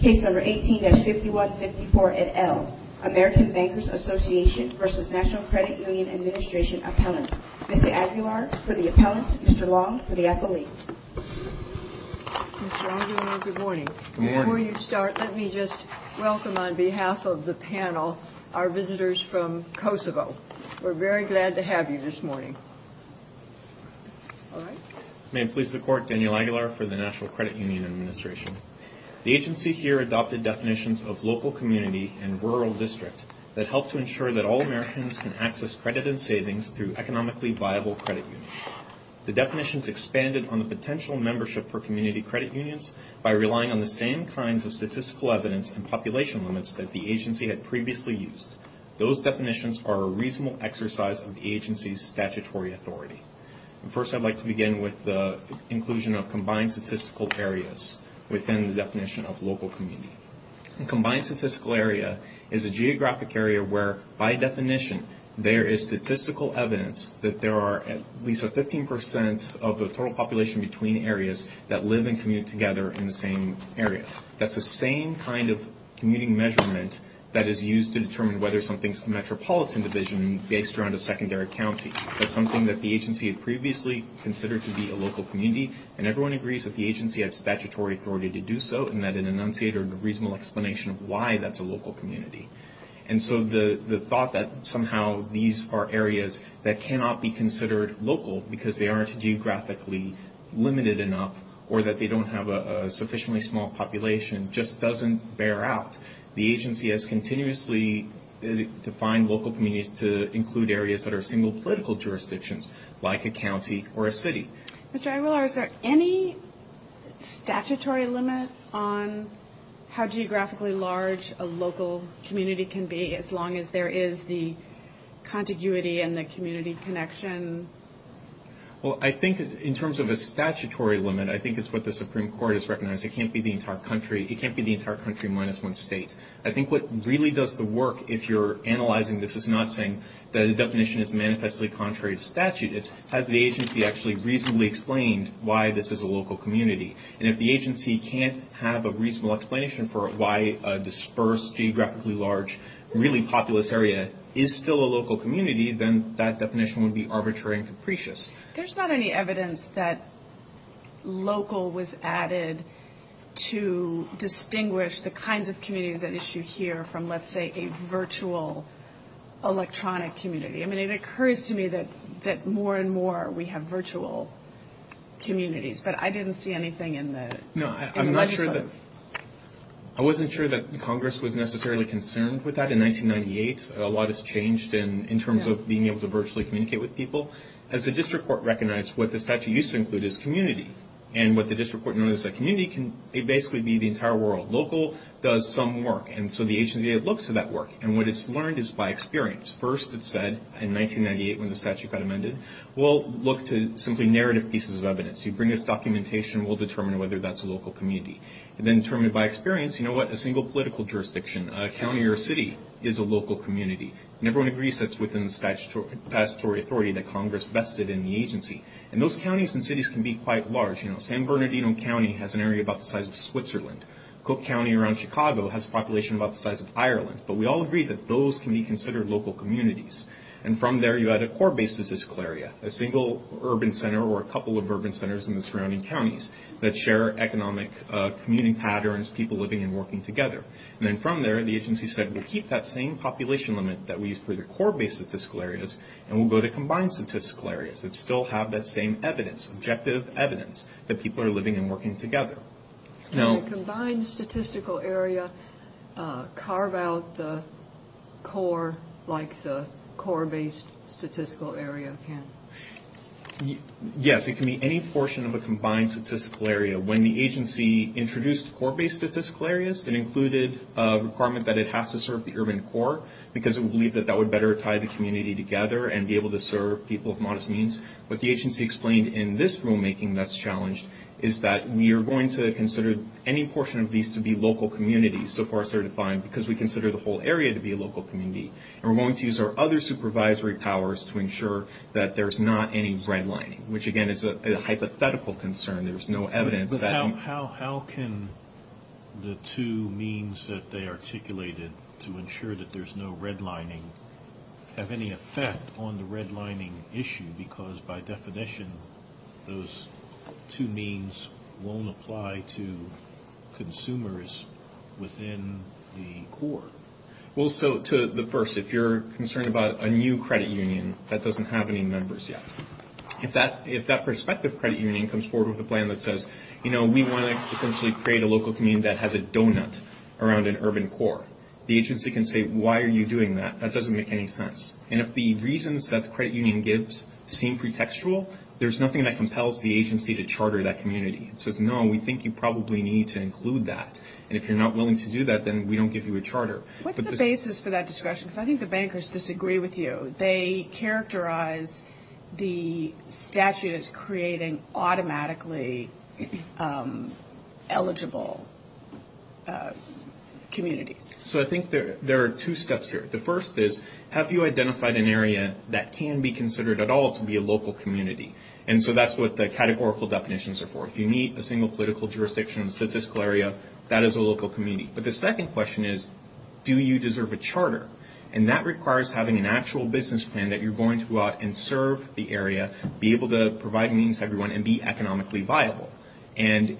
Case No. 18-5154 et al., American Bankers Association v. National Credit Union Administration Appellant. Ms. Aguilar for the appellant, Mr. Long for the appellate. Mr. Aguilar, good morning. Before you start, let me just welcome on behalf of the panel our visitors from Kosovo. We're very glad to have you this morning. All right. May it please the Court, Daniel Aguilar for the National Credit Union Administration. The agency here adopted definitions of local community and rural district that help to ensure that all Americans can access credit and savings through economically viable credit unions. The definitions expanded on the potential membership for community credit unions by relying on the same kinds of statistical evidence and population limits that the agency had previously used. Those definitions are a reasonable exercise of the agency's statutory authority. First, I'd like to begin with the inclusion of combined statistical areas within the definition of local community. A combined statistical area is a geographic area where, by definition, there is statistical evidence that there are at least 15 percent of the total population between areas that live and commute together in the same area. That's the same kind of commuting measurement that is used to determine whether something's a metropolitan division based around a secondary county. That's something that the agency had previously considered to be a local community. And everyone agrees that the agency had statutory authority to do so and that an enunciated or reasonable explanation of why that's a local community. And so the thought that somehow these are areas that cannot be considered local because they aren't geographically limited enough or that they don't have a sufficiently small population just doesn't bear out. Because the agency has continuously defined local communities to include areas that are single political jurisdictions, like a county or a city. Ms. Dragweller, is there any statutory limit on how geographically large a local community can be as long as there is the contiguity and the community connection? Well, I think in terms of a statutory limit, I think it's what the Supreme Court has recognized. It can't be the entire country. It can't be the entire country minus one state. I think what really does the work, if you're analyzing this, is not saying that the definition is manifestly contrary to statute. It's has the agency actually reasonably explained why this is a local community. And if the agency can't have a reasonable explanation for why a dispersed, geographically large, really populous area is still a local community, then that definition would be arbitrary and capricious. There's not any evidence that local was added to distinguish the kinds of communities at issue here from, let's say, a virtual electronic community. I mean, it occurs to me that more and more we have virtual communities, but I didn't see anything in the legislative. I wasn't sure that Congress was necessarily concerned with that in 1998. A lot has changed in terms of being able to virtually communicate with people. As the district court recognized, what the statute used to include is community. And what the district court noticed that community can basically be the entire world. Local does some work, and so the agency looks at that work, and what it's learned is by experience. First, it said in 1998, when the statute got amended, we'll look to simply narrative pieces of evidence. You bring us documentation, we'll determine whether that's a local community. And then determined by experience, you know what, a single political jurisdiction, a county or a city, is a local community. And everyone agrees that's within the statutory authority that Congress vested in the agency. And those counties and cities can be quite large. San Bernardino County has an area about the size of Switzerland. Cook County around Chicago has a population about the size of Ireland. But we all agree that those can be considered local communities. And from there, you add a core-based statistical area, a single urban center or a couple of urban centers in the surrounding counties, that share economic commuting patterns, people living and working together. And then from there, the agency said, we'll keep that same population limit that we used for the core-based statistical areas, and we'll go to combined statistical areas that still have that same evidence, objective evidence, that people are living and working together. Can a combined statistical area carve out the core like the core-based statistical area can? Yes, it can be any portion of a combined statistical area. When the agency introduced core-based statistical areas, it included a requirement that it has to serve the urban core, because it believed that that would better tie the community together and be able to serve people of modest means. What the agency explained in this rulemaking that's challenged is that we are going to consider any portion of these to be local communities, so far as they're defined, because we consider the whole area to be a local community. And we're going to use our other supervisory powers to ensure that there's not any redlining, which, again, is a hypothetical concern. There's no evidence that... How can the two means that they articulated to ensure that there's no redlining have any effect on the redlining issue? Because, by definition, those two means won't apply to consumers within the core. Well, so, to the first, if you're concerned about a new credit union that doesn't have any members yet, if that prospective credit union comes forward with a plan that says, you know, we want to essentially create a local community that has a donut around an urban core, the agency can say, why are you doing that? That doesn't make any sense. And if the reasons that the credit union gives seem pretextual, there's nothing that compels the agency to charter that community. It says, no, we think you probably need to include that, and if you're not willing to do that, then we don't give you a charter. What's the basis for that discretion? Because I think the bankers disagree with you. They characterize the statute as creating automatically eligible communities. So I think there are two steps here. The first is, have you identified an area that can be considered at all to be a local community? And so that's what the categorical definitions are for. If you need a single political jurisdiction in a statistical area, that is a local community. But the second question is, do you deserve a charter? And that requires having an actual business plan that you're going to go out and serve the area, be able to provide means to everyone, and be economically viable. And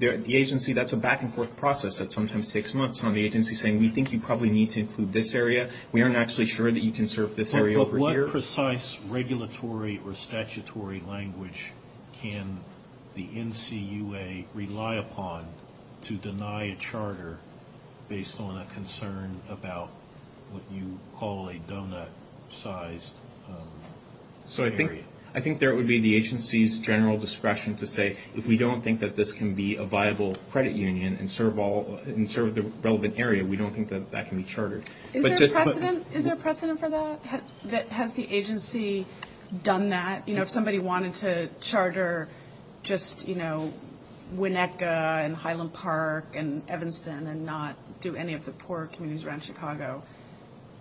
the agency, that's a back-and-forth process that sometimes takes months on the agency saying, we think you probably need to include this area. We aren't actually sure that you can serve this area over here. What precise regulatory or statutory language can the NCUA rely upon to deny a charter based on a concern about what you call a donut-sized area? So I think there would be the agency's general discretion to say, if we don't think that this can be a viable credit union and serve the relevant area, we don't think that that can be chartered. Is there precedent for that? Has the agency done that? You know, if somebody wanted to charter just, you know, Winnetka and Highland Park and Evanston and not do any of the poor communities around Chicago,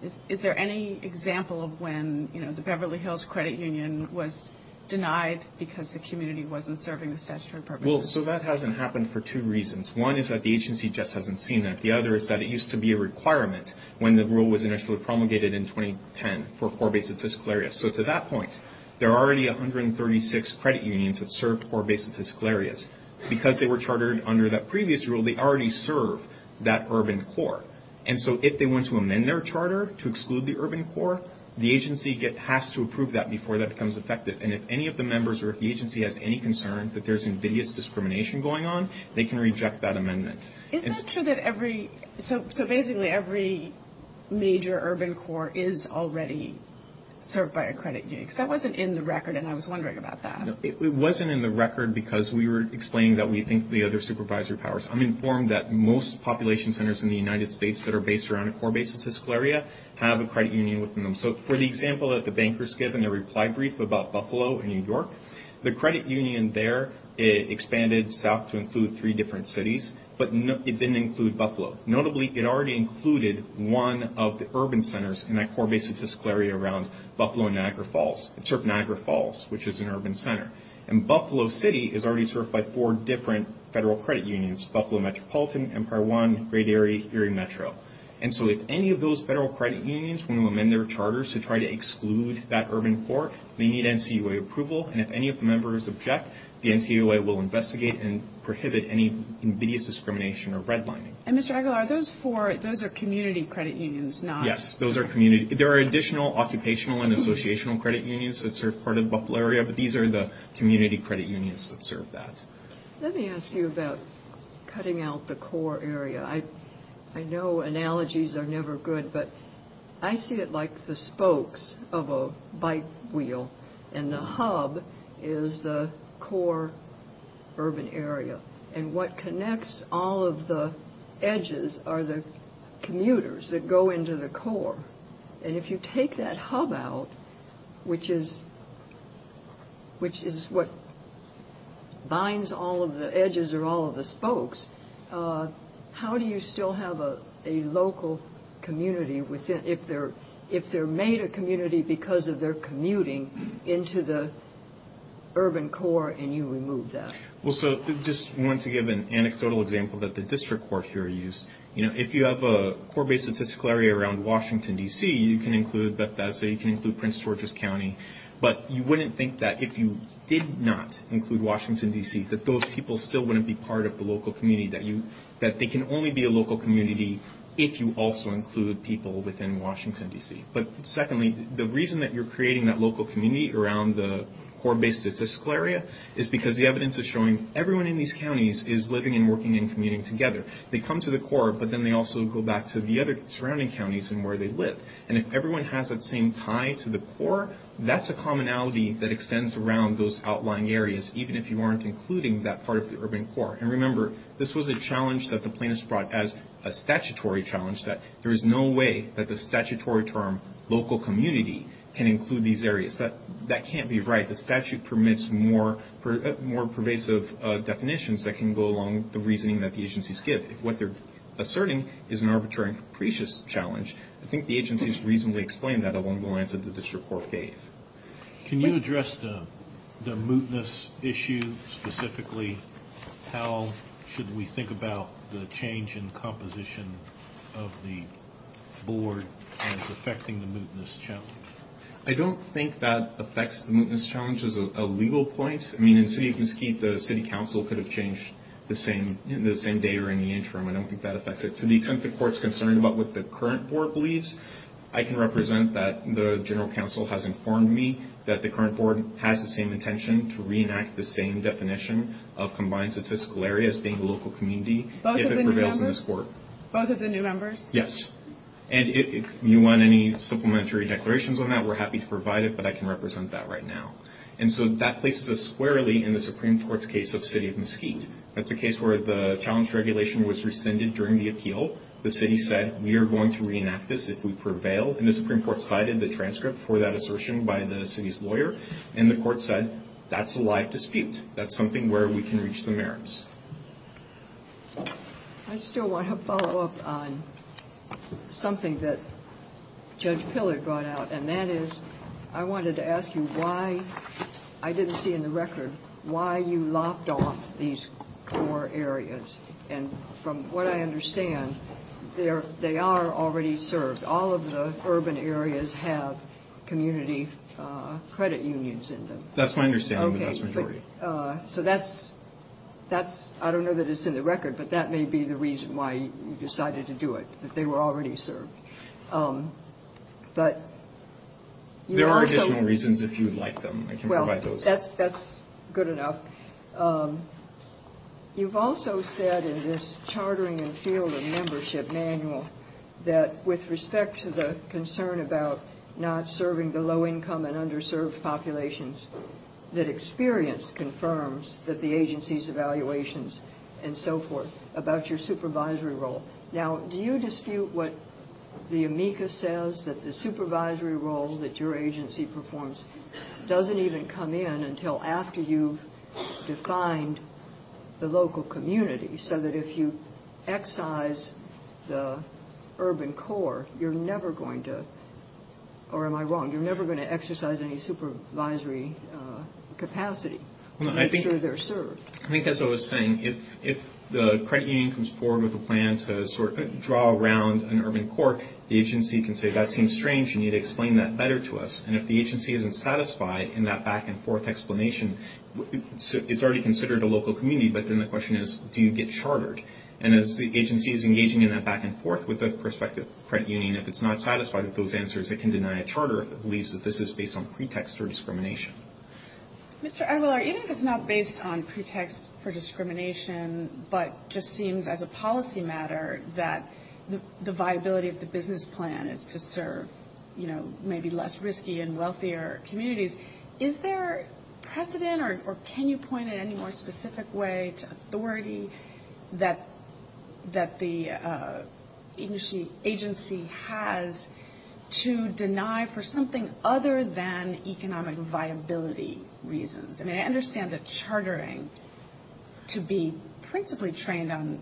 is there any example of when, you know, the Beverly Hills Credit Union was denied because the community wasn't serving the statutory purposes? Well, so that hasn't happened for two reasons. One is that the agency just hasn't seen that. The other is that it used to be a requirement when the rule was initially promulgated in 2010 for poor-based statistical areas. So to that point, there are already 136 credit unions that serve poor-based statistical areas. Because they were chartered under that previous rule, they already serve that urban core. And so if they want to amend their charter to exclude the urban core, the agency has to approve that before that becomes effective. And if any of the members or if the agency has any concern that there's invidious discrimination going on, they can reject that amendment. Is that true that every, so basically every major urban core is already served by a credit union? Because that wasn't in the record, and I was wondering about that. It wasn't in the record because we were explaining that we think the other supervisory powers. I'm informed that most population centers in the United States that are based around a poor-based statistical area have a credit union within them. So for the example that the bankers gave in their reply brief about Buffalo and New York, the credit union there expanded south to include three different cities, but it didn't include Buffalo. Notably, it already included one of the urban centers in that poor-based statistical area around Buffalo and Niagara Falls. It served Niagara Falls, which is an urban center. And Buffalo City is already served by four different federal credit unions, Buffalo Metropolitan, Empire One, Great Area, Erie Metro. And so if any of those federal credit unions want to amend their charters to try to exclude that urban core, they need NCUA approval, and if any of the members object, the NCUA will investigate and prohibit any invidious discrimination or redlining. And Mr. Aguilar, those are community credit unions, not... Yes, those are community. There are additional occupational and associational credit unions that serve part of the Buffalo area, but these are the community credit unions that serve that. Let me ask you about cutting out the core area. I know analogies are never good, but I see it like the spokes of a bike wheel, and the hub is the core urban area. And what connects all of the edges are the commuters that go into the core. And if you take that hub out, which is what binds all of the edges or all of the spokes, how do you still have a local community if they're made a community because of their commuting into the urban core and you remove that? Well, so I just wanted to give an anecdotal example that the district court here used. If you have a core-based statistical area around Washington, D.C., you can include Bethesda, you can include Prince George's County, but you wouldn't think that if you did not include Washington, D.C., that those people still wouldn't be part of the local community, that they can only be a local community if you also include people within Washington, D.C. But secondly, the reason that you're creating that local community around the core-based statistical area is because the evidence is showing everyone in these counties is living and working and commuting together. They come to the core, but then they also go back to the other surrounding counties and where they live. And if everyone has that same tie to the core, that's a commonality that extends around those outlying areas, even if you aren't including that part of the urban core. And remember, this was a challenge that the plaintiffs brought as a statutory challenge, that there is no way that the statutory term, local community, can include these areas. That can't be right. The statute permits more pervasive definitions that can go along with the reasoning that the agencies give. If what they're asserting is an arbitrary and capricious challenge, I think the agencies reasonably explained that along the lines of the district court case. Can you address the mootness issue specifically? How should we think about the change in composition of the board as affecting the mootness challenge? I don't think that affects the mootness challenge as a legal point. I mean, in the city of Mesquite, the city council could have changed the same day or in the interim. I don't think that affects it. To the extent the court's concerned about what the current board believes, I can represent that the general council has informed me that the current board has the same intention to reenact the same definition of combined statistical areas being local community. Both of the new members? Yes. If you want any supplementary declarations on that, we're happy to provide it, but I can represent that right now. That places us squarely in the Supreme Court's case of the city of Mesquite. That's a case where the challenge regulation was rescinded during the appeal. The city said, we are going to reenact this if we prevail. And the Supreme Court cited the transcript for that assertion by the city's lawyer. And the court said, that's a live dispute. That's something where we can reach the merits. I still want to follow up on something that Judge Pillard brought out. And that is, I wanted to ask you why, I didn't see in the record, why you lopped off these four areas. And from what I understand, they are already served. All of the urban areas have community credit unions in them. That's my understanding, the vast majority. I don't know that it's in the record, but that may be the reason why you decided to do it, that they were already served. There are additional reasons if you'd like them. Well, that's good enough. You've also said in this chartering and field of membership manual, that with respect to the concern about not serving the low income and underserved populations, that experience confirms that the agency's evaluations and so forth about your supervisory role. Now, do you dispute what the amicus says, that the supervisory role that your agency performs doesn't even come in until after you've defined the local community, so that if you excise the urban core, you're never going to, or am I wrong, you're never going to exercise any supervisory capacity to make sure they're served? I think as I was saying, if the credit union comes forward with a plan to sort of draw around an urban core, the agency can say, that seems strange, you need to explain that better to us. And if the agency isn't satisfied in that back and forth explanation, it's already considered a local community, but then the question is, do you get chartered? And as the agency is engaging in that back and forth with the prospective credit union, if it's not satisfied with those answers, it can deny a charter if it believes that this is based on pretext or discrimination. Mr. Aguilar, even if it's not based on pretext for discrimination, but just seems as a policy matter that the viability of the business plan is to serve, you know, maybe less risky and wealthier communities, is there precedent, or can you point in any more specific way to authority that the agency has to deny for something other than economic viability? I mean, I understand the chartering to be principally trained on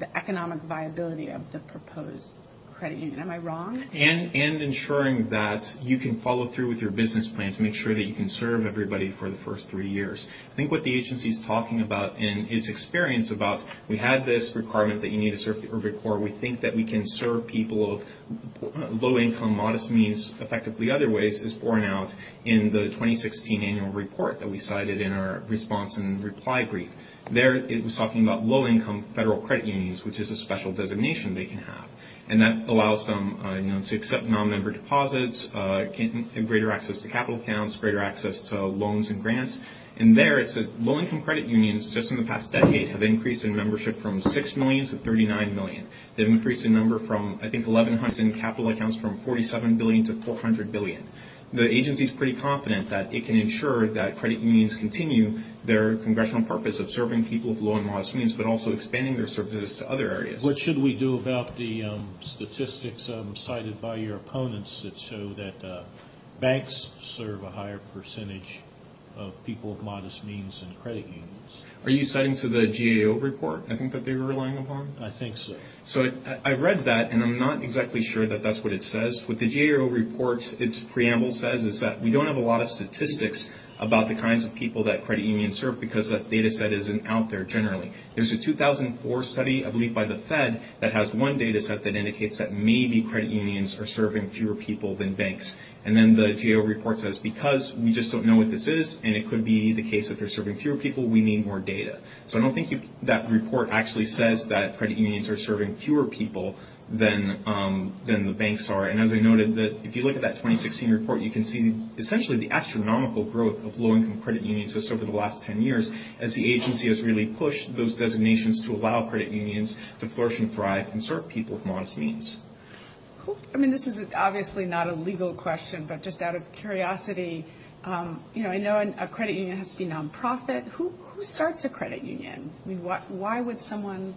the economic viability of the proposed credit union, am I wrong? And ensuring that you can follow through with your business plans, make sure that you can serve everybody for the first three years. I think what the agency is talking about in its experience about, we have this requirement that you need to serve the urban core, we think that we can serve people of low income, modest means, effectively other ways, is borne out in the 2016 annual report that we cited in our response and reply brief. There it was talking about low income federal credit unions, which is a special designation they can have. And that allows them, you know, to accept non-member deposits, greater access to capital accounts, greater access to loans and grants. And there it said, low income credit unions, just in the past decade, have increased in membership from 6 million to 39 million. They've increased in number from, I think, 1100 capital accounts from 47 billion to 400 billion. The agency is pretty confident that it can ensure that credit unions continue their congressional purpose of serving people of low and modest means, but also expanding their services to other areas. What should we do about the statistics cited by your opponents that show that banks serve a higher percentage of people of modest means than credit unions? Are you citing to the GAO report, I think, that they were relying upon? I think so. So I read that, and I'm not exactly sure that that's what it says. What the GAO report, its preamble says is that we don't have a lot of statistics about the kinds of people that credit unions serve because that data set isn't out there generally. There's a 2004 study, I believe by the Fed, that has one data set that indicates that maybe credit unions are serving fewer people than banks. And then the GAO report says, because we just don't know what this is, and it could be the case that they're serving fewer people, we need more data. So I don't think that report actually says that credit unions are serving fewer people than the banks are. And as I noted, if you look at that 2016 report, you can see essentially the astronomical growth of low-income credit unions just over the last 10 years as the agency has really pushed those designations to allow credit unions to flourish and thrive and serve people of modest means. I mean, this is obviously not a legal question, but just out of curiosity, I know a credit union has to be non-profit. Who starts a credit union? I mean, why would someone...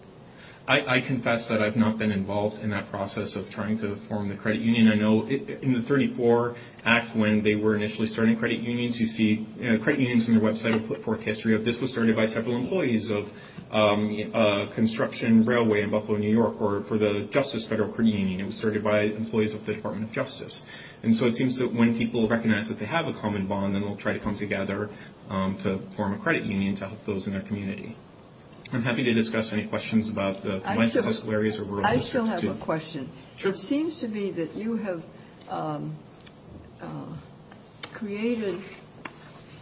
I confess that I've not been involved in that process of trying to form the credit union. I know in the 34 Act, when they were initially starting credit unions, you see credit unions on their website put forth history of this was started by several employees of a construction railway in Buffalo, New York, or for the Justice Federal Credit Union. It was started by employees of the Department of Justice. And so it seems that when people recognize that they have a common bond, then they'll try to come together to form a credit union to help those in their community. I'm happy to discuss any questions about the... I still have a question. It seems to me that you have created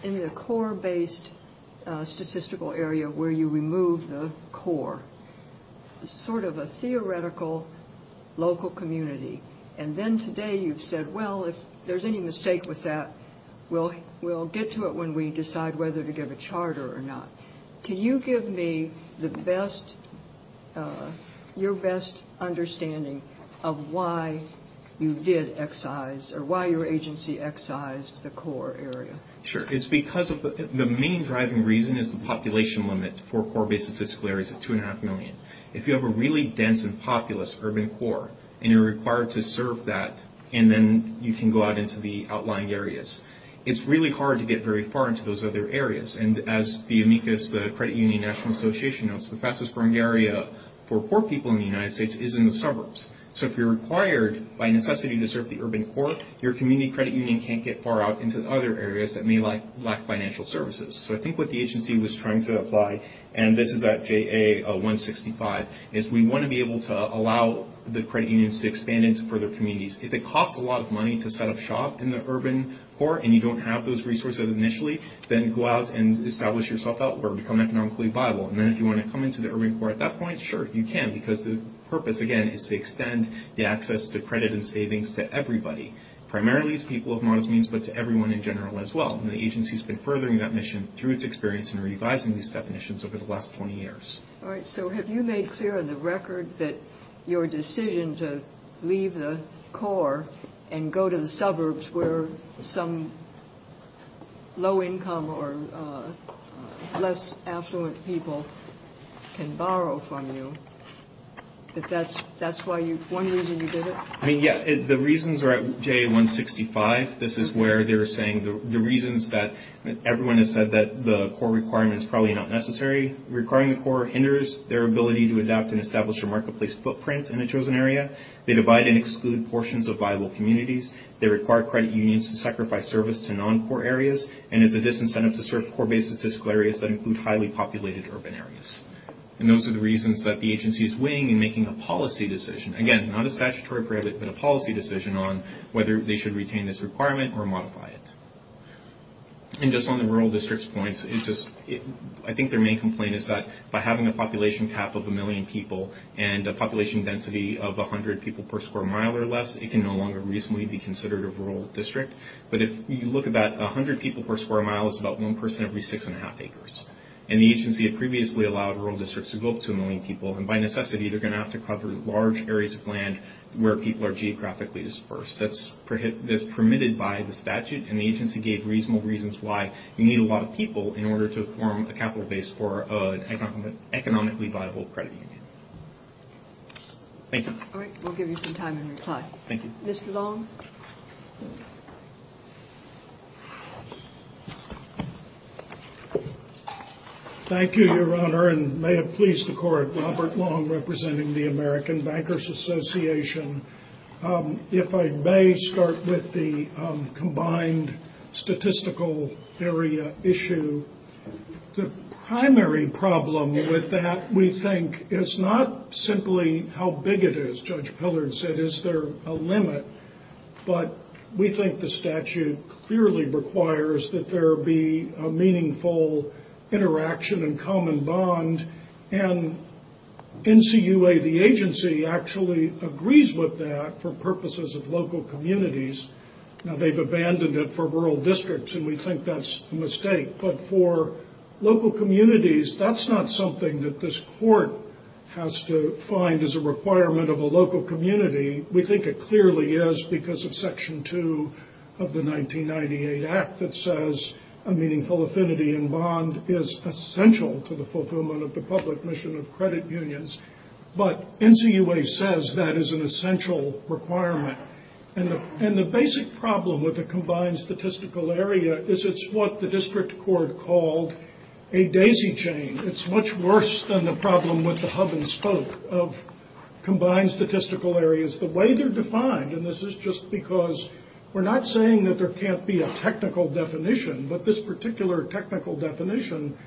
in the core-based statistical area where you remove the core, sort of a theoretical local community. And then today you've said, well, if there's any mistake with that, we'll get to it when we decide whether to give a charter or not. Can you give me your best understanding of why you did excise or why your agency excised the core area? Sure. It's because of the main driving reason is the population limit for core-based statistical areas of 2.5 million. If you have a really dense and populous urban core and you're required to serve that, and then you can go out into the outlying areas, it's really hard to get very far into those other areas. And as the amicus, the Credit Union National Association notes, the fastest growing area for poor people in the United States is in the suburbs. So if you're required by necessity to serve the urban core, your community credit union can't get far out into other areas that may lack financial services. So I think what the agency was trying to apply, and this is at JA-165, is we want to be able to allow the credit unions to expand into further communities. If it costs a lot of money to set up shop in the urban core and you don't have those resources initially, then go out and establish yourself or become economically viable. And then if you want to come into the urban core at that point, sure, you can, because the purpose, again, is to extend the access to credit and savings to everybody, primarily to people of modest means, but to everyone in general as well. And the agency's been furthering that mission through its experience in revising these definitions over the last 20 years. All right. So have you made clear on the record that your decision to leave the core and go to the suburbs where some low-income or less affluent people can borrow from you, that that's one reason you did it? I mean, yeah, the reasons are at JA-165. This is where they're saying the reasons that everyone has said that the core requirement is probably not necessary. Requiring the core hinders their ability to adapt and establish a marketplace footprint in a chosen area. They divide and exclude portions of viable communities. They require credit unions to sacrifice service to non-core areas, and it's a disincentive to serve core-based statistical areas that include highly populated urban areas. And those are the reasons that the agency is weighing in making a policy decision. Again, not a statutory prohibit, but a policy decision on whether they should retain this requirement or modify it. And just on the rural district's points, I think their main complaint is that by having a population cap of a million people and a population density of 100 people per square mile or less, it can no longer reasonably be considered a rural district. But if you look at that, 100 people per square mile is about one person every six and a half acres. And the agency had previously allowed rural districts to go up to a million people, and by necessity they're going to have to cover large areas of land where people are geographically dispersed. That's permitted by the statute, and the agency gave reasonable reasons why you need a lot of people in order to form a capital base for an economically viable credit union. Thank you. Thank you, Your Honor, and may it please the Court. Robert Long, representing the American Bankers Association. If I may start with the combined statistical area issue. The primary problem with that, we think, is not simply how big it is. But we think the statute clearly requires that there be a meaningful interaction and common bond, and NCUA, the agency, actually agrees with that for purposes of local communities. Now, they've abandoned it for rural districts, and we think that's a mistake. But for local communities, that's not something that this Court has to find as a requirement of a local community. We think it clearly is because of Section 2 of the 1998 Act that says a meaningful affinity and bond is essential to the fulfillment of the public mission of credit unions. But NCUA says that is an essential requirement. And the basic problem with the combined statistical area is it's what the district court called a daisy chain. It's much worse than the problem with the hub and stoke of combined statistical areas The way they're defined, and this is just because we're not saying that there can't be a technical definition, but this particular technical definition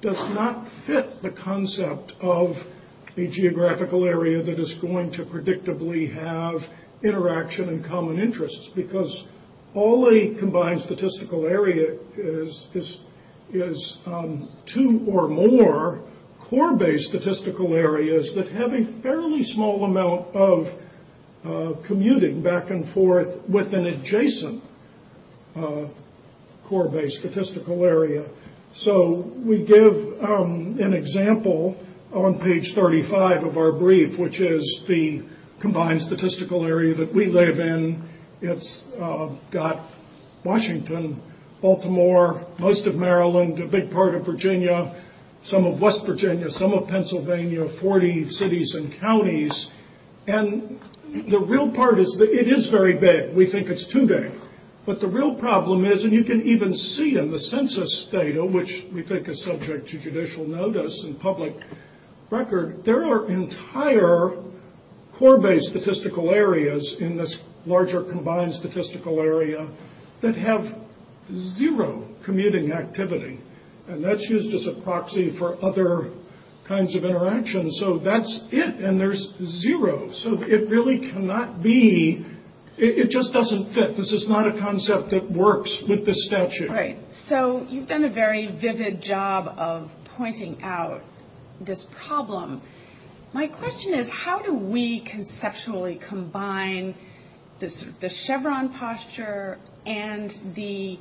does not fit the concept of a geographical area that is going to predictably have interaction and common interests. Because all a combined statistical area is two or more core-based statistical areas that have a fairly small amount of commuting back and forth with an adjacent core-based statistical area. So we give an example on page 35 of our brief, which is the combined statistical area that we live in. It's got Washington, Baltimore, most of Maryland, a big part of Virginia, some of West Virginia, some of Pennsylvania, 40 cities and counties. And the real part is that it is very big. We think it's too big. But the real problem is, and you can even see in the census data, which we think is subject to judicial notice and public record, there are entire core-based statistical areas in this larger combined statistical area that have zero commuting activity. And that's used as a proxy for other kinds of interaction. So that's it, and there's zero. So it really cannot be, it just doesn't fit. This is not a concept that works with this statute. Right. So you've done a very vivid job of pointing out this problem. My question is, how do we conceptually combine the Chevron posture and the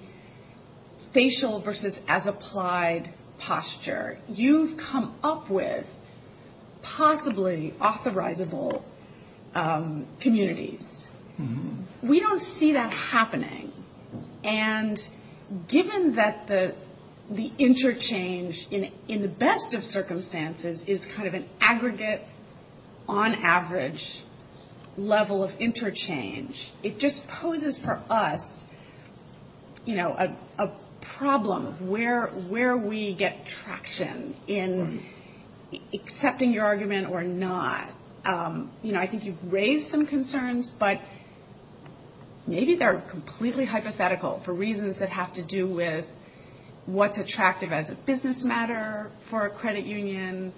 facial versus as-applied posture? You've come up with possibly authorizable communities. We don't see that happening. And given that the interchange, in the best of circumstances, is kind of an aggregate, on average, level of interchange, it just poses for us a problem of where we get traction in accepting your argument or not. I think you've raised some concerns, but maybe they're completely hypothetical for reasons that have to do with what's attractive as a business matter for a credit union,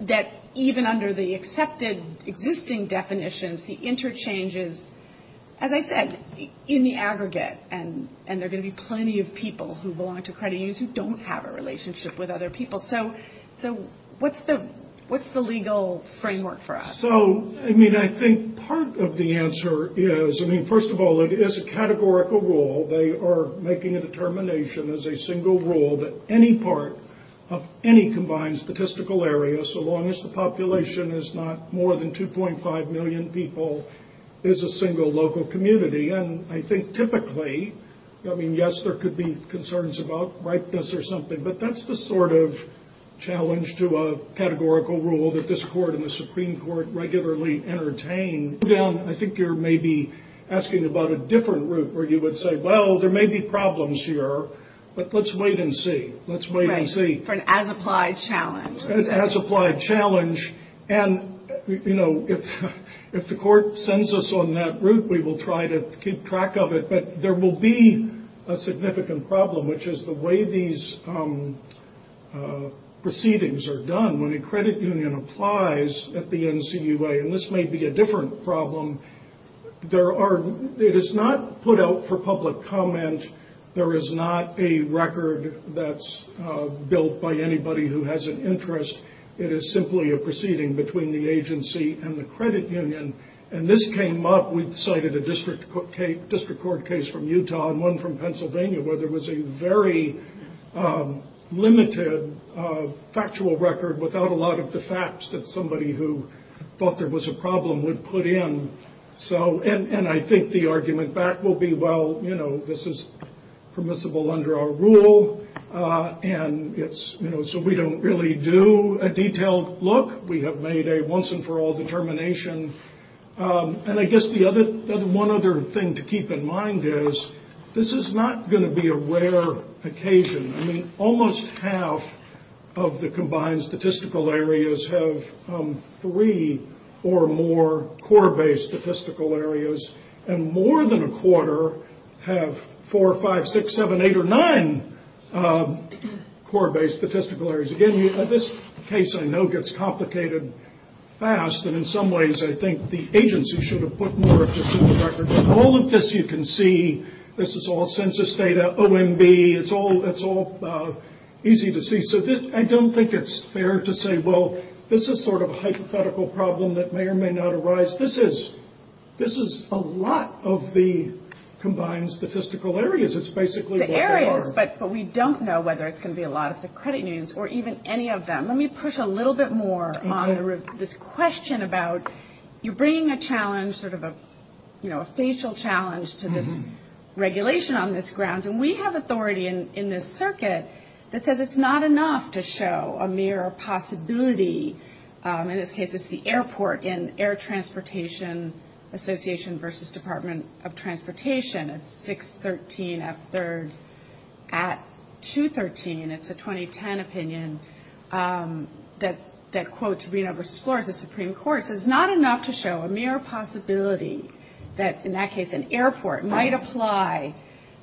that even under the accepted existing definitions, the interchanges, as I said, in the aggregate, and there are going to be plenty of people who belong to credit unions who don't have a relationship with other people. So what's the legal framework for us? I think part of the answer is, first of all, it is a categorical rule. They are making a determination as a single rule that any part of any combined statistical area, so long as the population is not more than 2.5 million people, is a single local community. And I think typically, I mean, yes, there could be concerns about ripeness or something, but that's the sort of challenge to a categorical rule that this Court and the Supreme Court regularly entertain. I think you're maybe asking about a different route where you would say, well, there may be problems here, but let's wait and see. For an as-applied challenge. And if the Court sends us on that route, we will try to keep track of it, but there will be a significant problem, which is the way these proceedings are done. When a credit union applies at the NCUA, and this may be a different problem, it is not put out for public comment. There is not a record that's built by anybody who has an interest. It is simply a proceeding between the agency and the credit union. And this came up, we cited a district court case from Utah and one from Pennsylvania where there was a very limited factual record without a lot of the facts that somebody who thought there was a problem would put in. And I think the argument back will be, well, this is permissible under our rule, and so we don't really do a detailed look. We have made a once-and-for-all determination. And I guess one other thing to keep in mind is this is not going to be a rare occasion. Almost half of the combined statistical areas have three or more core-based statistical areas, and more than a quarter have four, five, six, seven, eight, or nine core-based statistical areas. Again, this case I know gets complicated fast, and in some ways I think the agency should have put more to suit the record. All of this you can see, this is all census data, OMB, it's all easy to see. So I don't think it's fair to say, well, this is sort of a hypothetical problem that may or may not arise. This is a lot of the combined statistical areas. It's basically what they are. But we don't know whether it's going to be a lot of the credit unions or even any of them. Let me push a little bit more on this question about you're bringing a challenge, sort of a facial challenge to this regulation on this grounds. And we have authority in this circuit that says it's not enough to show a mere possibility. In this case it's the airport in Air Transportation Association versus Department of Transportation. It's 613 F3rd at 213. It's a 2010 opinion that quotes Reno v. Flores, the Supreme Court. It says it's not enough to show a mere possibility that in that case an airport might apply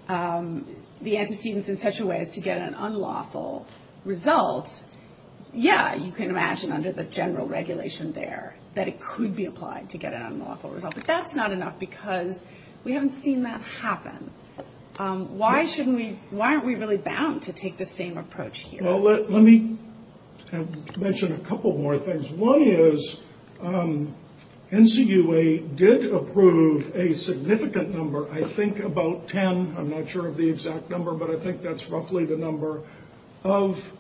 the antecedents in such a way as to get an unlawful result. Yeah, you can imagine under the general regulation there that it could be applied to get an unlawful result. But that's not enough because we haven't seen that happen. Why aren't we really bound to take the same approach here? Let me mention a couple more things. One is NCUA did approve a significant number, I think about 10, I'm not sure of the exact number, but I think that's roughly the number of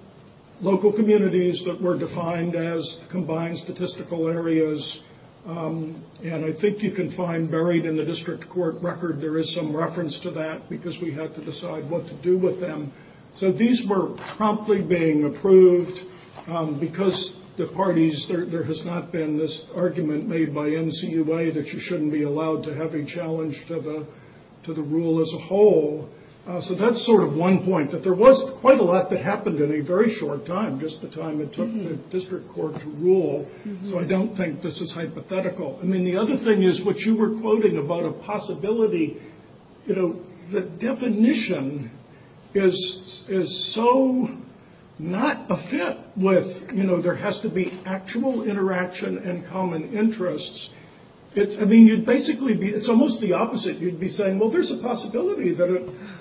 local communities that were defined as combined statistical areas. And I think you can find buried in the district court record there is some reference to that because we had to decide what to do with them. So these were promptly being approved because the parties, there has not been this argument made by NCUA that you shouldn't be allowed to have a challenge to the rule as a whole. So that's sort of one point, that there was quite a lot that happened in a very short time, just the time it took the district court to rule. So I don't think this is hypothetical. The other thing is what you were quoting about a possibility, the definition is so not a fit with there has to be actual interaction and common interests. It's almost the opposite. You'd be saying, well, there's a possibility that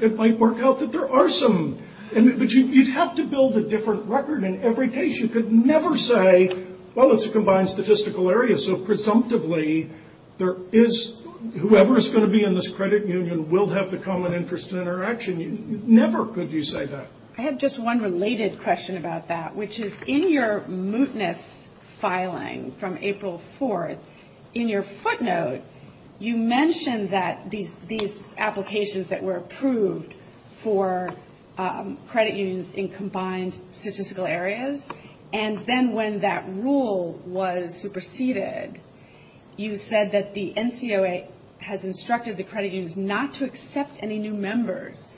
it might work out that there are some. But you'd have to build a different record in every case. You could never say, well, it's a combined statistical area, so presumptively there is, whoever is going to be in this credit union will have the common interest in interaction. Never could you say that. I had just one related question about that, which is in your mootness filing from April 4th, in your footnote, you mentioned that these applications that were approved for credit unions in combined statistical areas, and then when that rule was superseded, you said that the NCOA has instructed the credit unions not to accept any new members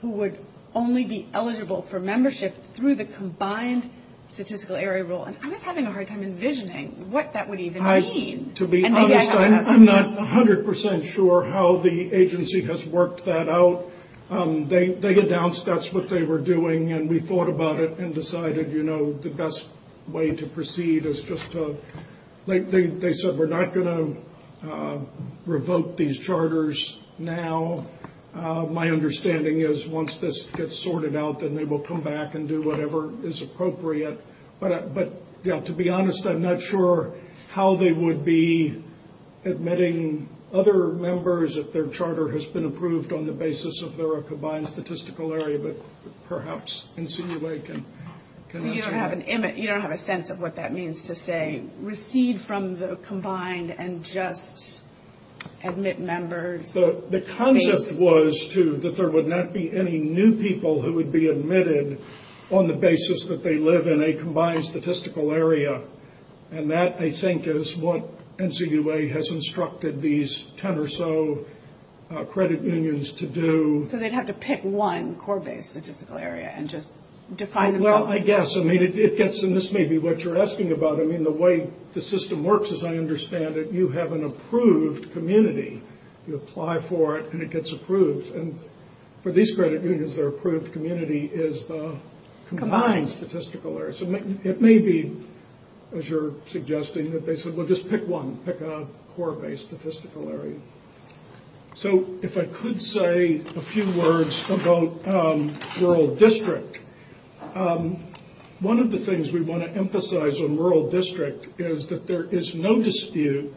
who would only be eligible for membership through the combined statistical area rule. I was having a hard time envisioning what that would even mean. To be honest, I'm not 100% sure how the agency has worked that out. They announced that's what they were doing, and we thought about it and decided the best way to proceed is just to, they said we're not going to revoke these charters now. My understanding is once this gets sorted out, then they will come back and do whatever is appropriate. To be honest, I'm not sure how they would be admitting other members if their charter has been approved on the basis of their combined statistical area, but perhaps NCOA can answer that. You don't have a sense of what that means to say, recede from the combined and just admit members. The concept was that there would not be any new people who would be admitted on the basis that they live in a combined statistical area. That, I think, is what NCOA has instructed these 10 or so credit unions to do. They'd have to pick one core-based statistical area and just define themselves. This may be what you're asking about. The way the system works, as I understand it, you have an approved community. You apply for it and it gets approved. For these credit unions, their approved community is the combined statistical area. It may be, as you're suggesting, that they said just pick one, pick a core-based statistical area. If I could say a few words about rural district. One of the things we want to emphasize on rural district is that there is no dispute,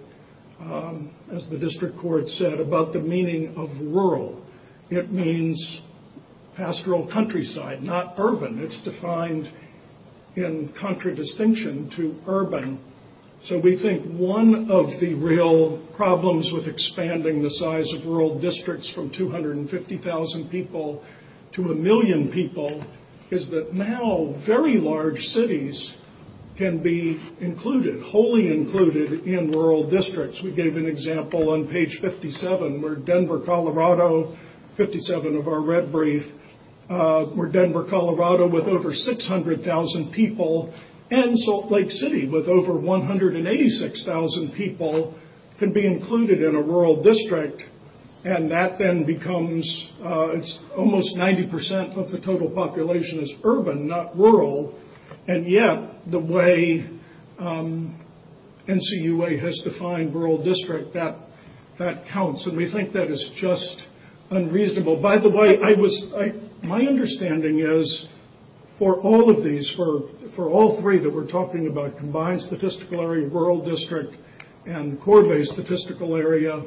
as the district court said, about the meaning of rural. It means pastoral countryside, not urban. It's defined in contradistinction to urban. We think one of the real problems with expanding the size of rural districts from 250,000 people to a million people is that now very large cities can be wholly included in rural districts. We gave an example on page 57 where Denver, Colorado, 57 of our red brief, where Denver, Colorado with over 600,000 people and Salt Lake City with over 186,000 people can be included in a rural district. That then becomes almost 90% of the total population is urban, not rural. Yet, the way NCUA has defined rural district, that counts. We think that is just unreasonable. By the way, my understanding is for all of these, for all three that we're talking about, combined statistical area, rural district and core based statistical area,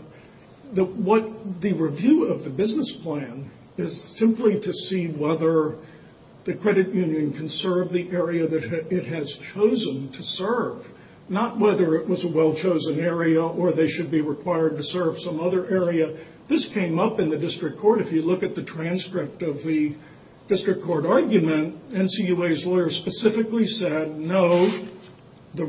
the review of the business plan is simply to see whether the credit union can serve the area that it has chosen to serve. Not whether it was a well chosen area or they should be required to serve some other area. This came up in the district court. If you look at the transcript of the district court argument, NCUA's lawyer specifically said, no, the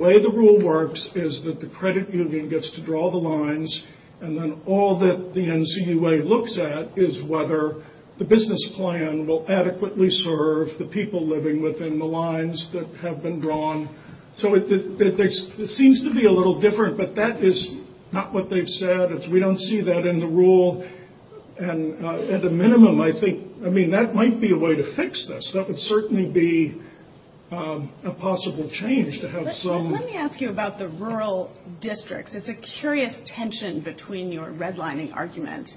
way the rule works is that the credit union gets to draw the lines and then all that the NCUA looks at is whether the business plan will adequately serve the people living within the lines that have been drawn. It seems to be a little different, but that is not what they've said. We don't see that in the rule. That might be a way to fix this. That would certainly be a possible change. Let me ask you about the rural districts. It's a curious tension between your redlining argument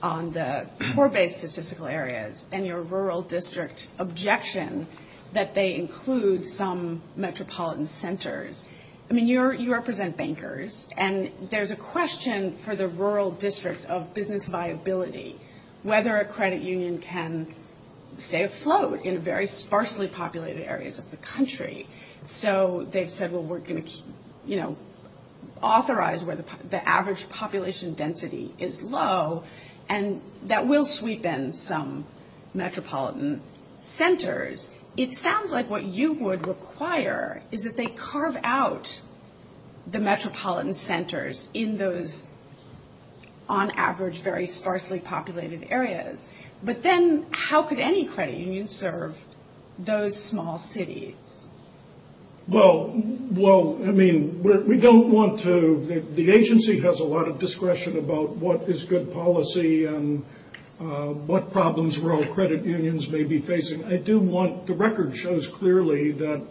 on the core based statistical areas and your rural district objection that they include some metropolitan centers. I mean, you represent bankers, and there's a question for the rural districts of business viability, whether a credit union can stay afloat in very sparsely populated areas of the country. So they've said, well, we're going to, you know, authorize where the average population density is low, and that will sweep in some metropolitan centers. It sounds like what you would require is that they carve out the metropolitan centers in those on average very sparsely populated areas. But then how could any credit union serve those small cities? Well, I mean, we don't want to. The agency has a lot of discretion about what is good policy and what problems rural credit unions may be facing. The record shows clearly that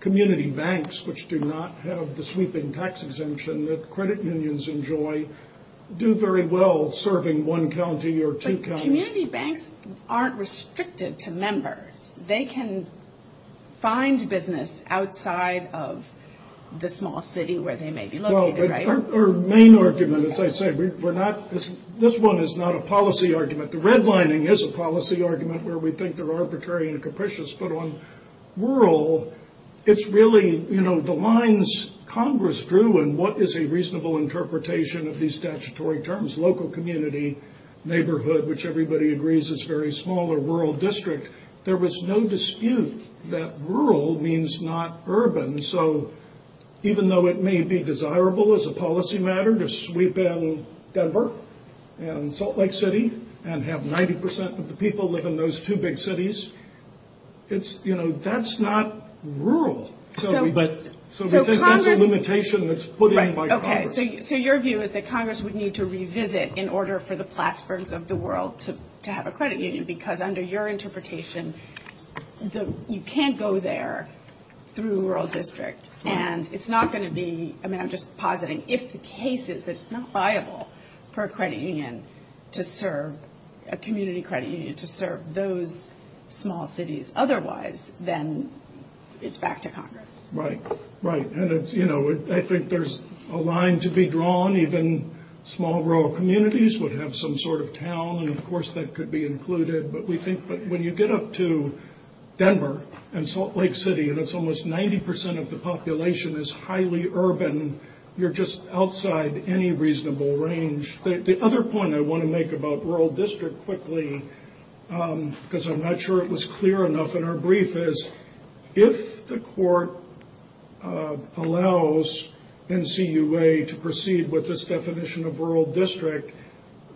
community banks, which do not have the sweeping tax exemption that credit unions enjoy, do very well serving one county or two counties. Community banks aren't restricted to members. They can find business outside of the small city where they may be located, right? Our main argument, as I say, we're not, this one is not a policy argument. The redlining is a policy argument where we think they're arbitrary and capricious, but on rural, it's really, you know, the lines Congress drew and what is a reasonable interpretation of these statutory terms, local community neighborhood, which everybody agrees is very small or rural district. There was no dispute that rural means not urban. So even though it may be desirable as a policy matter to sweep in Denver and Salt Lake City and have 90% of the people live in those two big cities, it's, you know, that's not rural. So that's a limitation that's put in by Congress. So your view is that Congress would need to revisit in order for the Plattsburghs of the world to be able to serve those small cities? Because under your interpretation, you can't go there through rural district. And it's not going to be, I mean, I'm just positing, if the case is that it's not viable for a credit union to serve, a community credit union to serve those small cities. Otherwise, then it's back to Congress. Right, right. And, you know, I think there's a line to be drawn. Even small rural communities would have some sort of town, and of course that could be included. But we think when you get up to Denver and Salt Lake City, and it's almost 90% of the population is highly urban, you're just outside any reasonable range. The other point I want to make about rural district quickly, because I'm not sure it was clear enough in our brief, is if the court allows NCUA to proceed with this definition of rural district,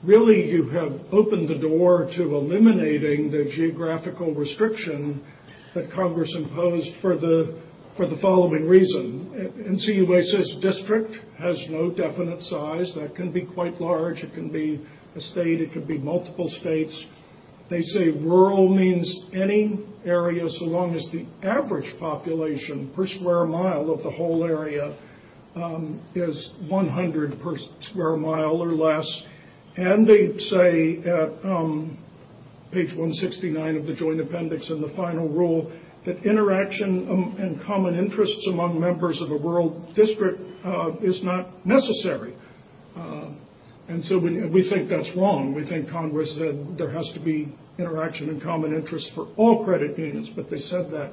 really you have opened the door to eliminating the geographical restriction that Congress imposed for the following reason. NCUA says district has no definite size. That can be quite large. It can be a state. It can be multiple states. They say any area, so long as the average population per square mile of the whole area is 100 per square mile or less. And they say at page 169 of the joint appendix in the final rule, that interaction and common interests among members of a rural district is not necessary. And so we think that's wrong. We think Congress said there has to be interaction and common interests for all credit units, but they said that.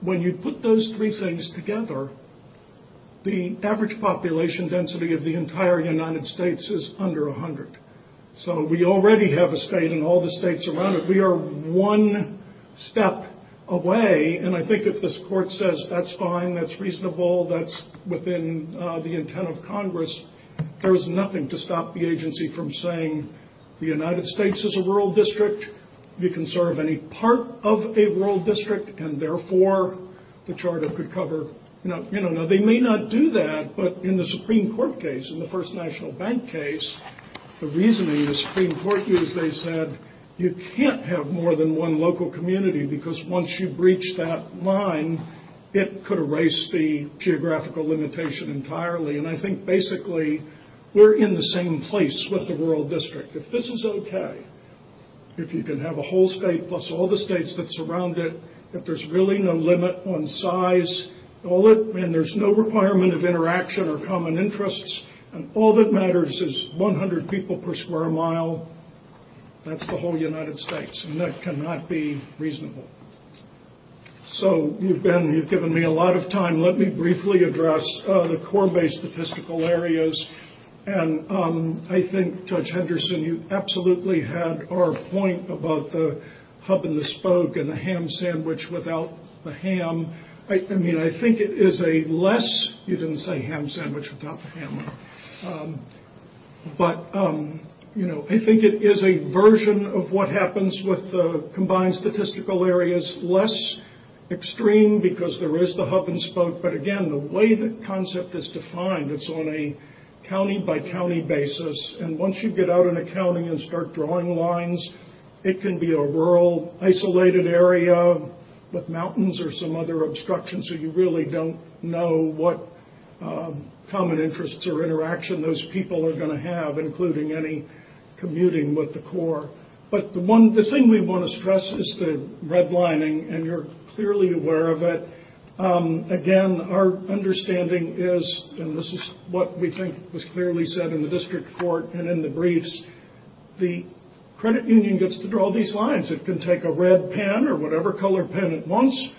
When you put those three things together, the average population density of the entire United States is under 100. So we already have a state and all the states around it. We are one step away, and I think if this court says that's fine, that's reasonable, that's within the intent of Congress, there is nothing to stop the agency from saying the United States is a rural district, you can serve any part of a rural district, and therefore the charter could cover. They may not do that, but in the Supreme Court case, in the first national bank case, the reasoning the Supreme Court used, they said you can't have more than one local community, because once you breach that line, it could erase the geographical limitation entirely, and I think basically we're in the same place with the rural district. If this is okay, if you can have a whole state plus all the states that surround it, if there's really no limit on size, and there's no requirement of interaction or common interests, and all that matters is 100 people per square mile, that's the whole United States, and that cannot be reasonable. So you've given me a lot of time. Let me briefly address the core base statistical areas, and I think Judge Henderson, you absolutely had our point about the hub and the spoke and the ham sandwich without the ham. I mean, I think it is a less you didn't say ham sandwich without the ham, but I think it is a version of what happens with the combined statistical areas, less extreme because there is the hub and spoke, but again, the way the concept is defined, it's on a county by county basis, and once you get out in a county and start drawing lines, it can be a rural isolated area with mountains or some other obstruction, so you really don't know what common interests or interaction those people are going to have, including any commuting with the Corps. But the thing we want to stress is the redlining, and you're clearly aware of it. Again, our understanding is, and this is what we think was clearly said in the district court and in the briefs, the credit union gets to draw these lines. It can take a red pen or whatever color pen it wants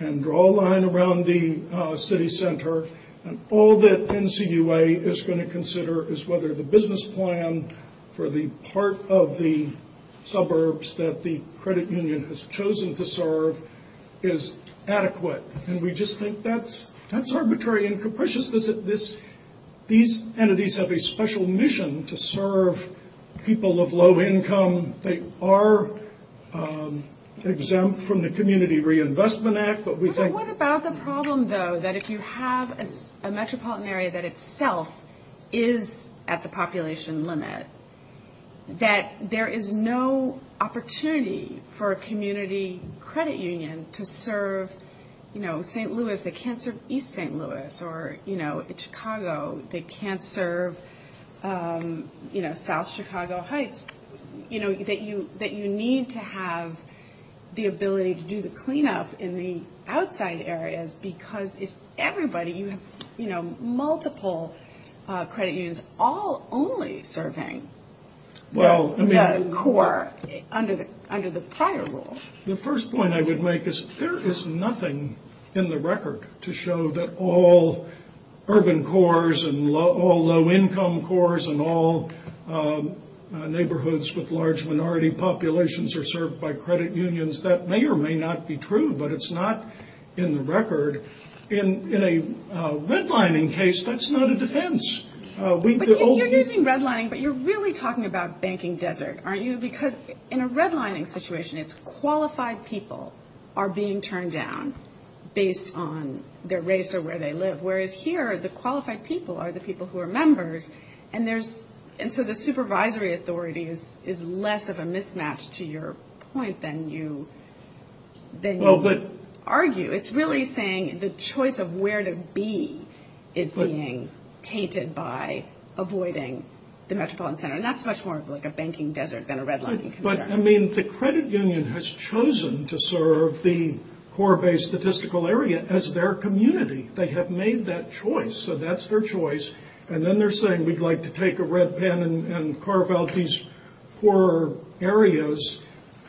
and draw a line around the city center, and all that NCUA is going to consider is whether the business plan for the part of the suburbs that the credit union has chosen to serve is adequate, and we just think that's arbitrary and capricious. These entities have a special mission to serve people of low income. They are exempt from the Community Reinvestment Act. What about the problem, though, that if you have a metropolitan area that itself is at the population limit, that there is no opportunity for a community credit union to serve St. Louis, they can't serve East St. Louis, or Chicago, they can't serve South Chicago Heights, that you need to have the ability to do the cleanup in the outside areas, because if everybody, you have multiple credit unions all only serving the prior role. The first point I would make is there is nothing in the record to show that all urban cores and all low income cores and all neighborhoods with large minority populations are served by credit unions. That may or may not be true, but it's not in the record. In a redlining case, that's not a defense. You're using redlining, but you're really talking about banking desert, aren't you? Because in a redlining situation, it's qualified people are being turned down based on their race or where they live, whereas here the qualified people are the people who are members, and so the supervisory authority is less of a mismatch to your point than you argue. It's really saying the choice of where to be is being tainted by avoiding the metropolitan center, and that's much more of a banking desert than a redlining concern. I mean, the credit union has chosen to serve the core-based statistical area as their community. They have made that choice, so that's their choice, and then they're saying we'd like to take a red pen and carve out these poorer areas,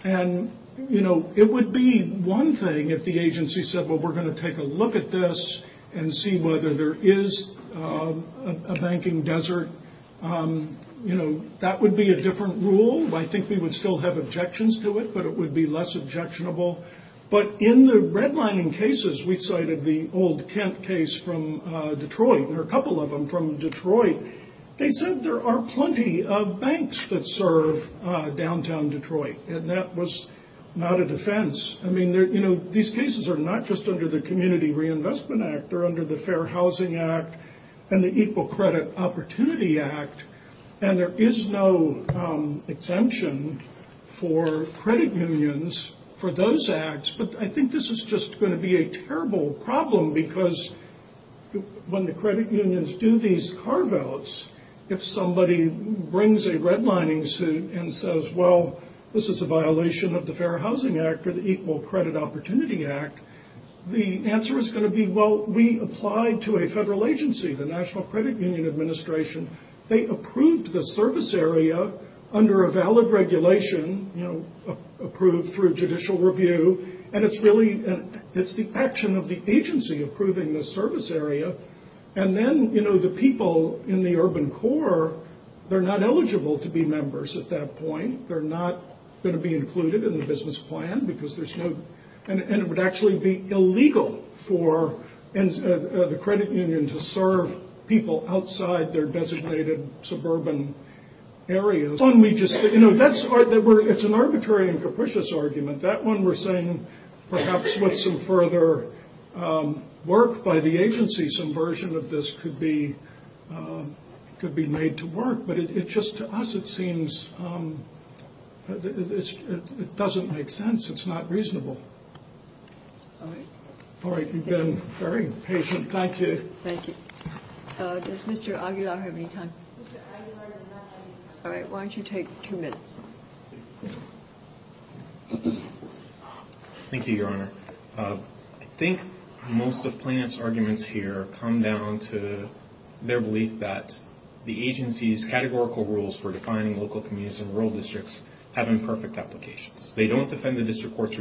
and it would be one thing if the agency said, well, we're going to take a look at this and see whether there is a banking desert. That would be a different rule. I think we would still have objections to it, but it would be less objectionable, but in the redlining cases, we cited the old Kent case from Detroit. There are a couple of them from Detroit. They said there are plenty of banks that serve downtown Detroit, and that was not a defense. I mean, these cases are not just under the Community Reinvestment Act. They're under the Fair Housing Act and the Equal Credit Opportunity Act, and there is no exemption for credit unions for those acts, but I think this is just going to be a terrible problem, because when the credit unions do these carve-outs, if somebody brings a redlining suit and says, well, this is a violation of the Fair Housing Act or the Equal Credit Opportunity Act, the answer is going to be, well, we applied to a federal agency, the National Credit Union Administration. They approved the service area under a valid regulation, approved through judicial review, and it's the action of the agency approving the service area, and then the people in the urban core, they're not eligible to be members at that point. They're not going to be included in the business plan, and it would actually be illegal for the credit union to serve people outside their It's an arbitrary and capricious argument. That one we're saying perhaps with some further work by the agency, some version of this could be made to work, but just to us it seems it doesn't make sense. It's not reasonable. All right, you've been very patient. Thank you. Thank you. Does Mr. Aguilar have any time? All right, why don't you take two minutes? Thank you, Your Honor. I think most of Plano's arguments here come down to their belief that the agency's categorical rules for defining local communities and rural districts have imperfect applications. They don't defend the district court's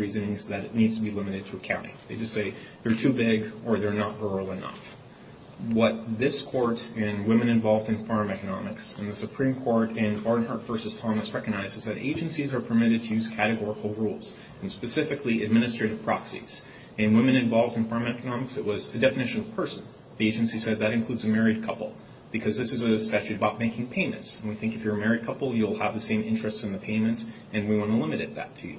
What this court in Women Involved in Farm Economics and the Supreme Court in Barnhart v. Thomas recognized is that agencies are permitted to use categorical rules, and specifically administrative proxies. In Women Involved in Farm Economics, it was the definition of person. The agency said that includes a married couple, because this is a statute about making payments, and we think if you're a married couple, you'll have the same interests in the payment, and we want to limit that to you.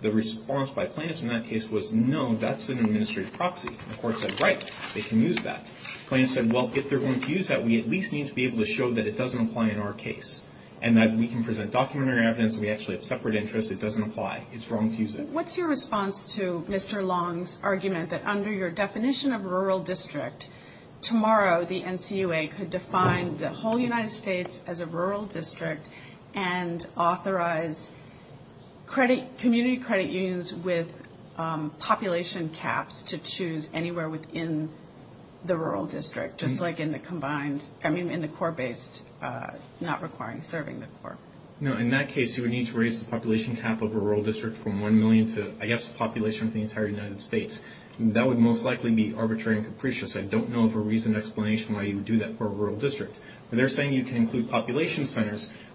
The response by Plano's in that case was, no, that's an administrative proxy. The court said, right, they can use that. Plano said, well, if they're going to use that, we at least need to be able to show that it doesn't apply in our case, and that we can present documentary evidence, and we actually have separate interests. It doesn't apply. It's wrong to use it. What's your response to Mr. Long's argument that under your definition of rural district, tomorrow the NCUA could define the whole United States as a rural district and authorize community credit unions with population caps to choose anywhere within the rural district, just like in the combined, I mean, in the court-based, not requiring serving the court. No, in that case, you would need to raise the population cap of a rural district from 1 million to, I guess, the population of the entire United States. That would most likely be arbitrary and capricious. I don't know of a reason or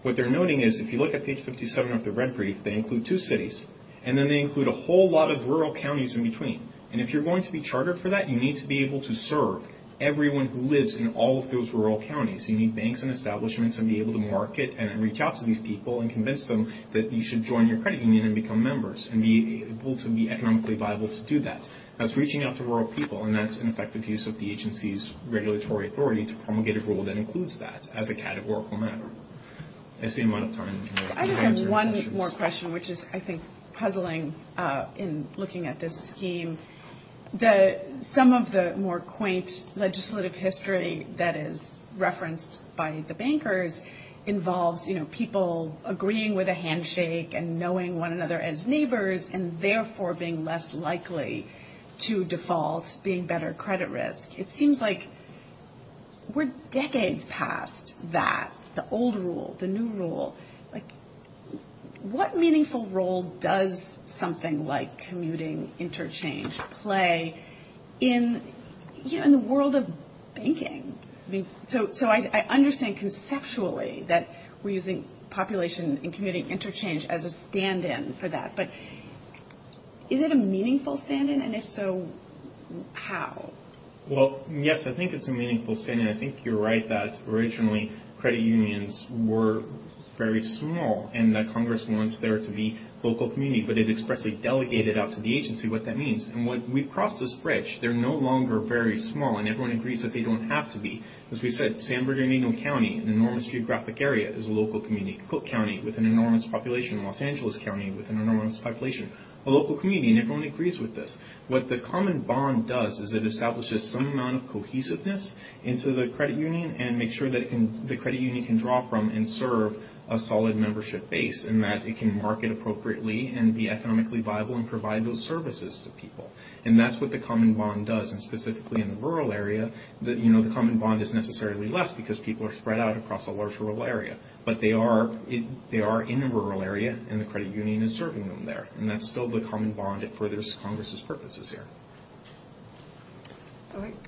what they're noting is, if you look at page 57 of the red brief, they include two cities, and then they include a whole lot of rural counties in between. And if you're going to be chartered for that, you need to be able to serve everyone who lives in all of those rural counties. You need banks and establishments to be able to market and reach out to these people and convince them that you should join your credit union and become members, and be able to be economically viable to do that. That's reaching out to rural people, and that's an effective use of the agency's workforce. I just have one more question, which is, I think, puzzling in looking at this scheme. Some of the more quaint legislative history that is referenced by the bankers involves, you know, people agreeing with a handshake and knowing one another as neighbors, and therefore being less likely to default, being better credit risk. It seems like we're decades past that. The old rule, the new rule. What meaningful role does something like commuting interchange play in the world of banking? So I understand conceptually that we're using population and commuting interchange as a stand-in for that, but is it a meaningful stand-in? And if so, how? Well, yes, I think it's a meaningful stand-in. I think you're right that originally credit unions were very small, and that Congress wants there to be local community, but it expressly delegated out to the agency what that means. And we've crossed this bridge. They're no longer very small, and everyone agrees that they don't have to be. As we said, San Bernardino County, an enormous geographic area, is a local community. Cook County, with an enormous population. Los Angeles County, with an enormous population. A local community, and everyone agrees with this. What the common bond does is it establishes some amount of cohesiveness into the credit union, and makes sure that the credit union can draw from and serve a solid membership base, and that it can market appropriately and be economically viable and provide those services to people. And that's what the common bond does. And specifically in the rural area, the common bond is necessarily less, because people are spread out across a large rural area. But they are in a rural area, and the credit union is serving them there. And that's still the common bond. It furthers Congress's purposes here. All right.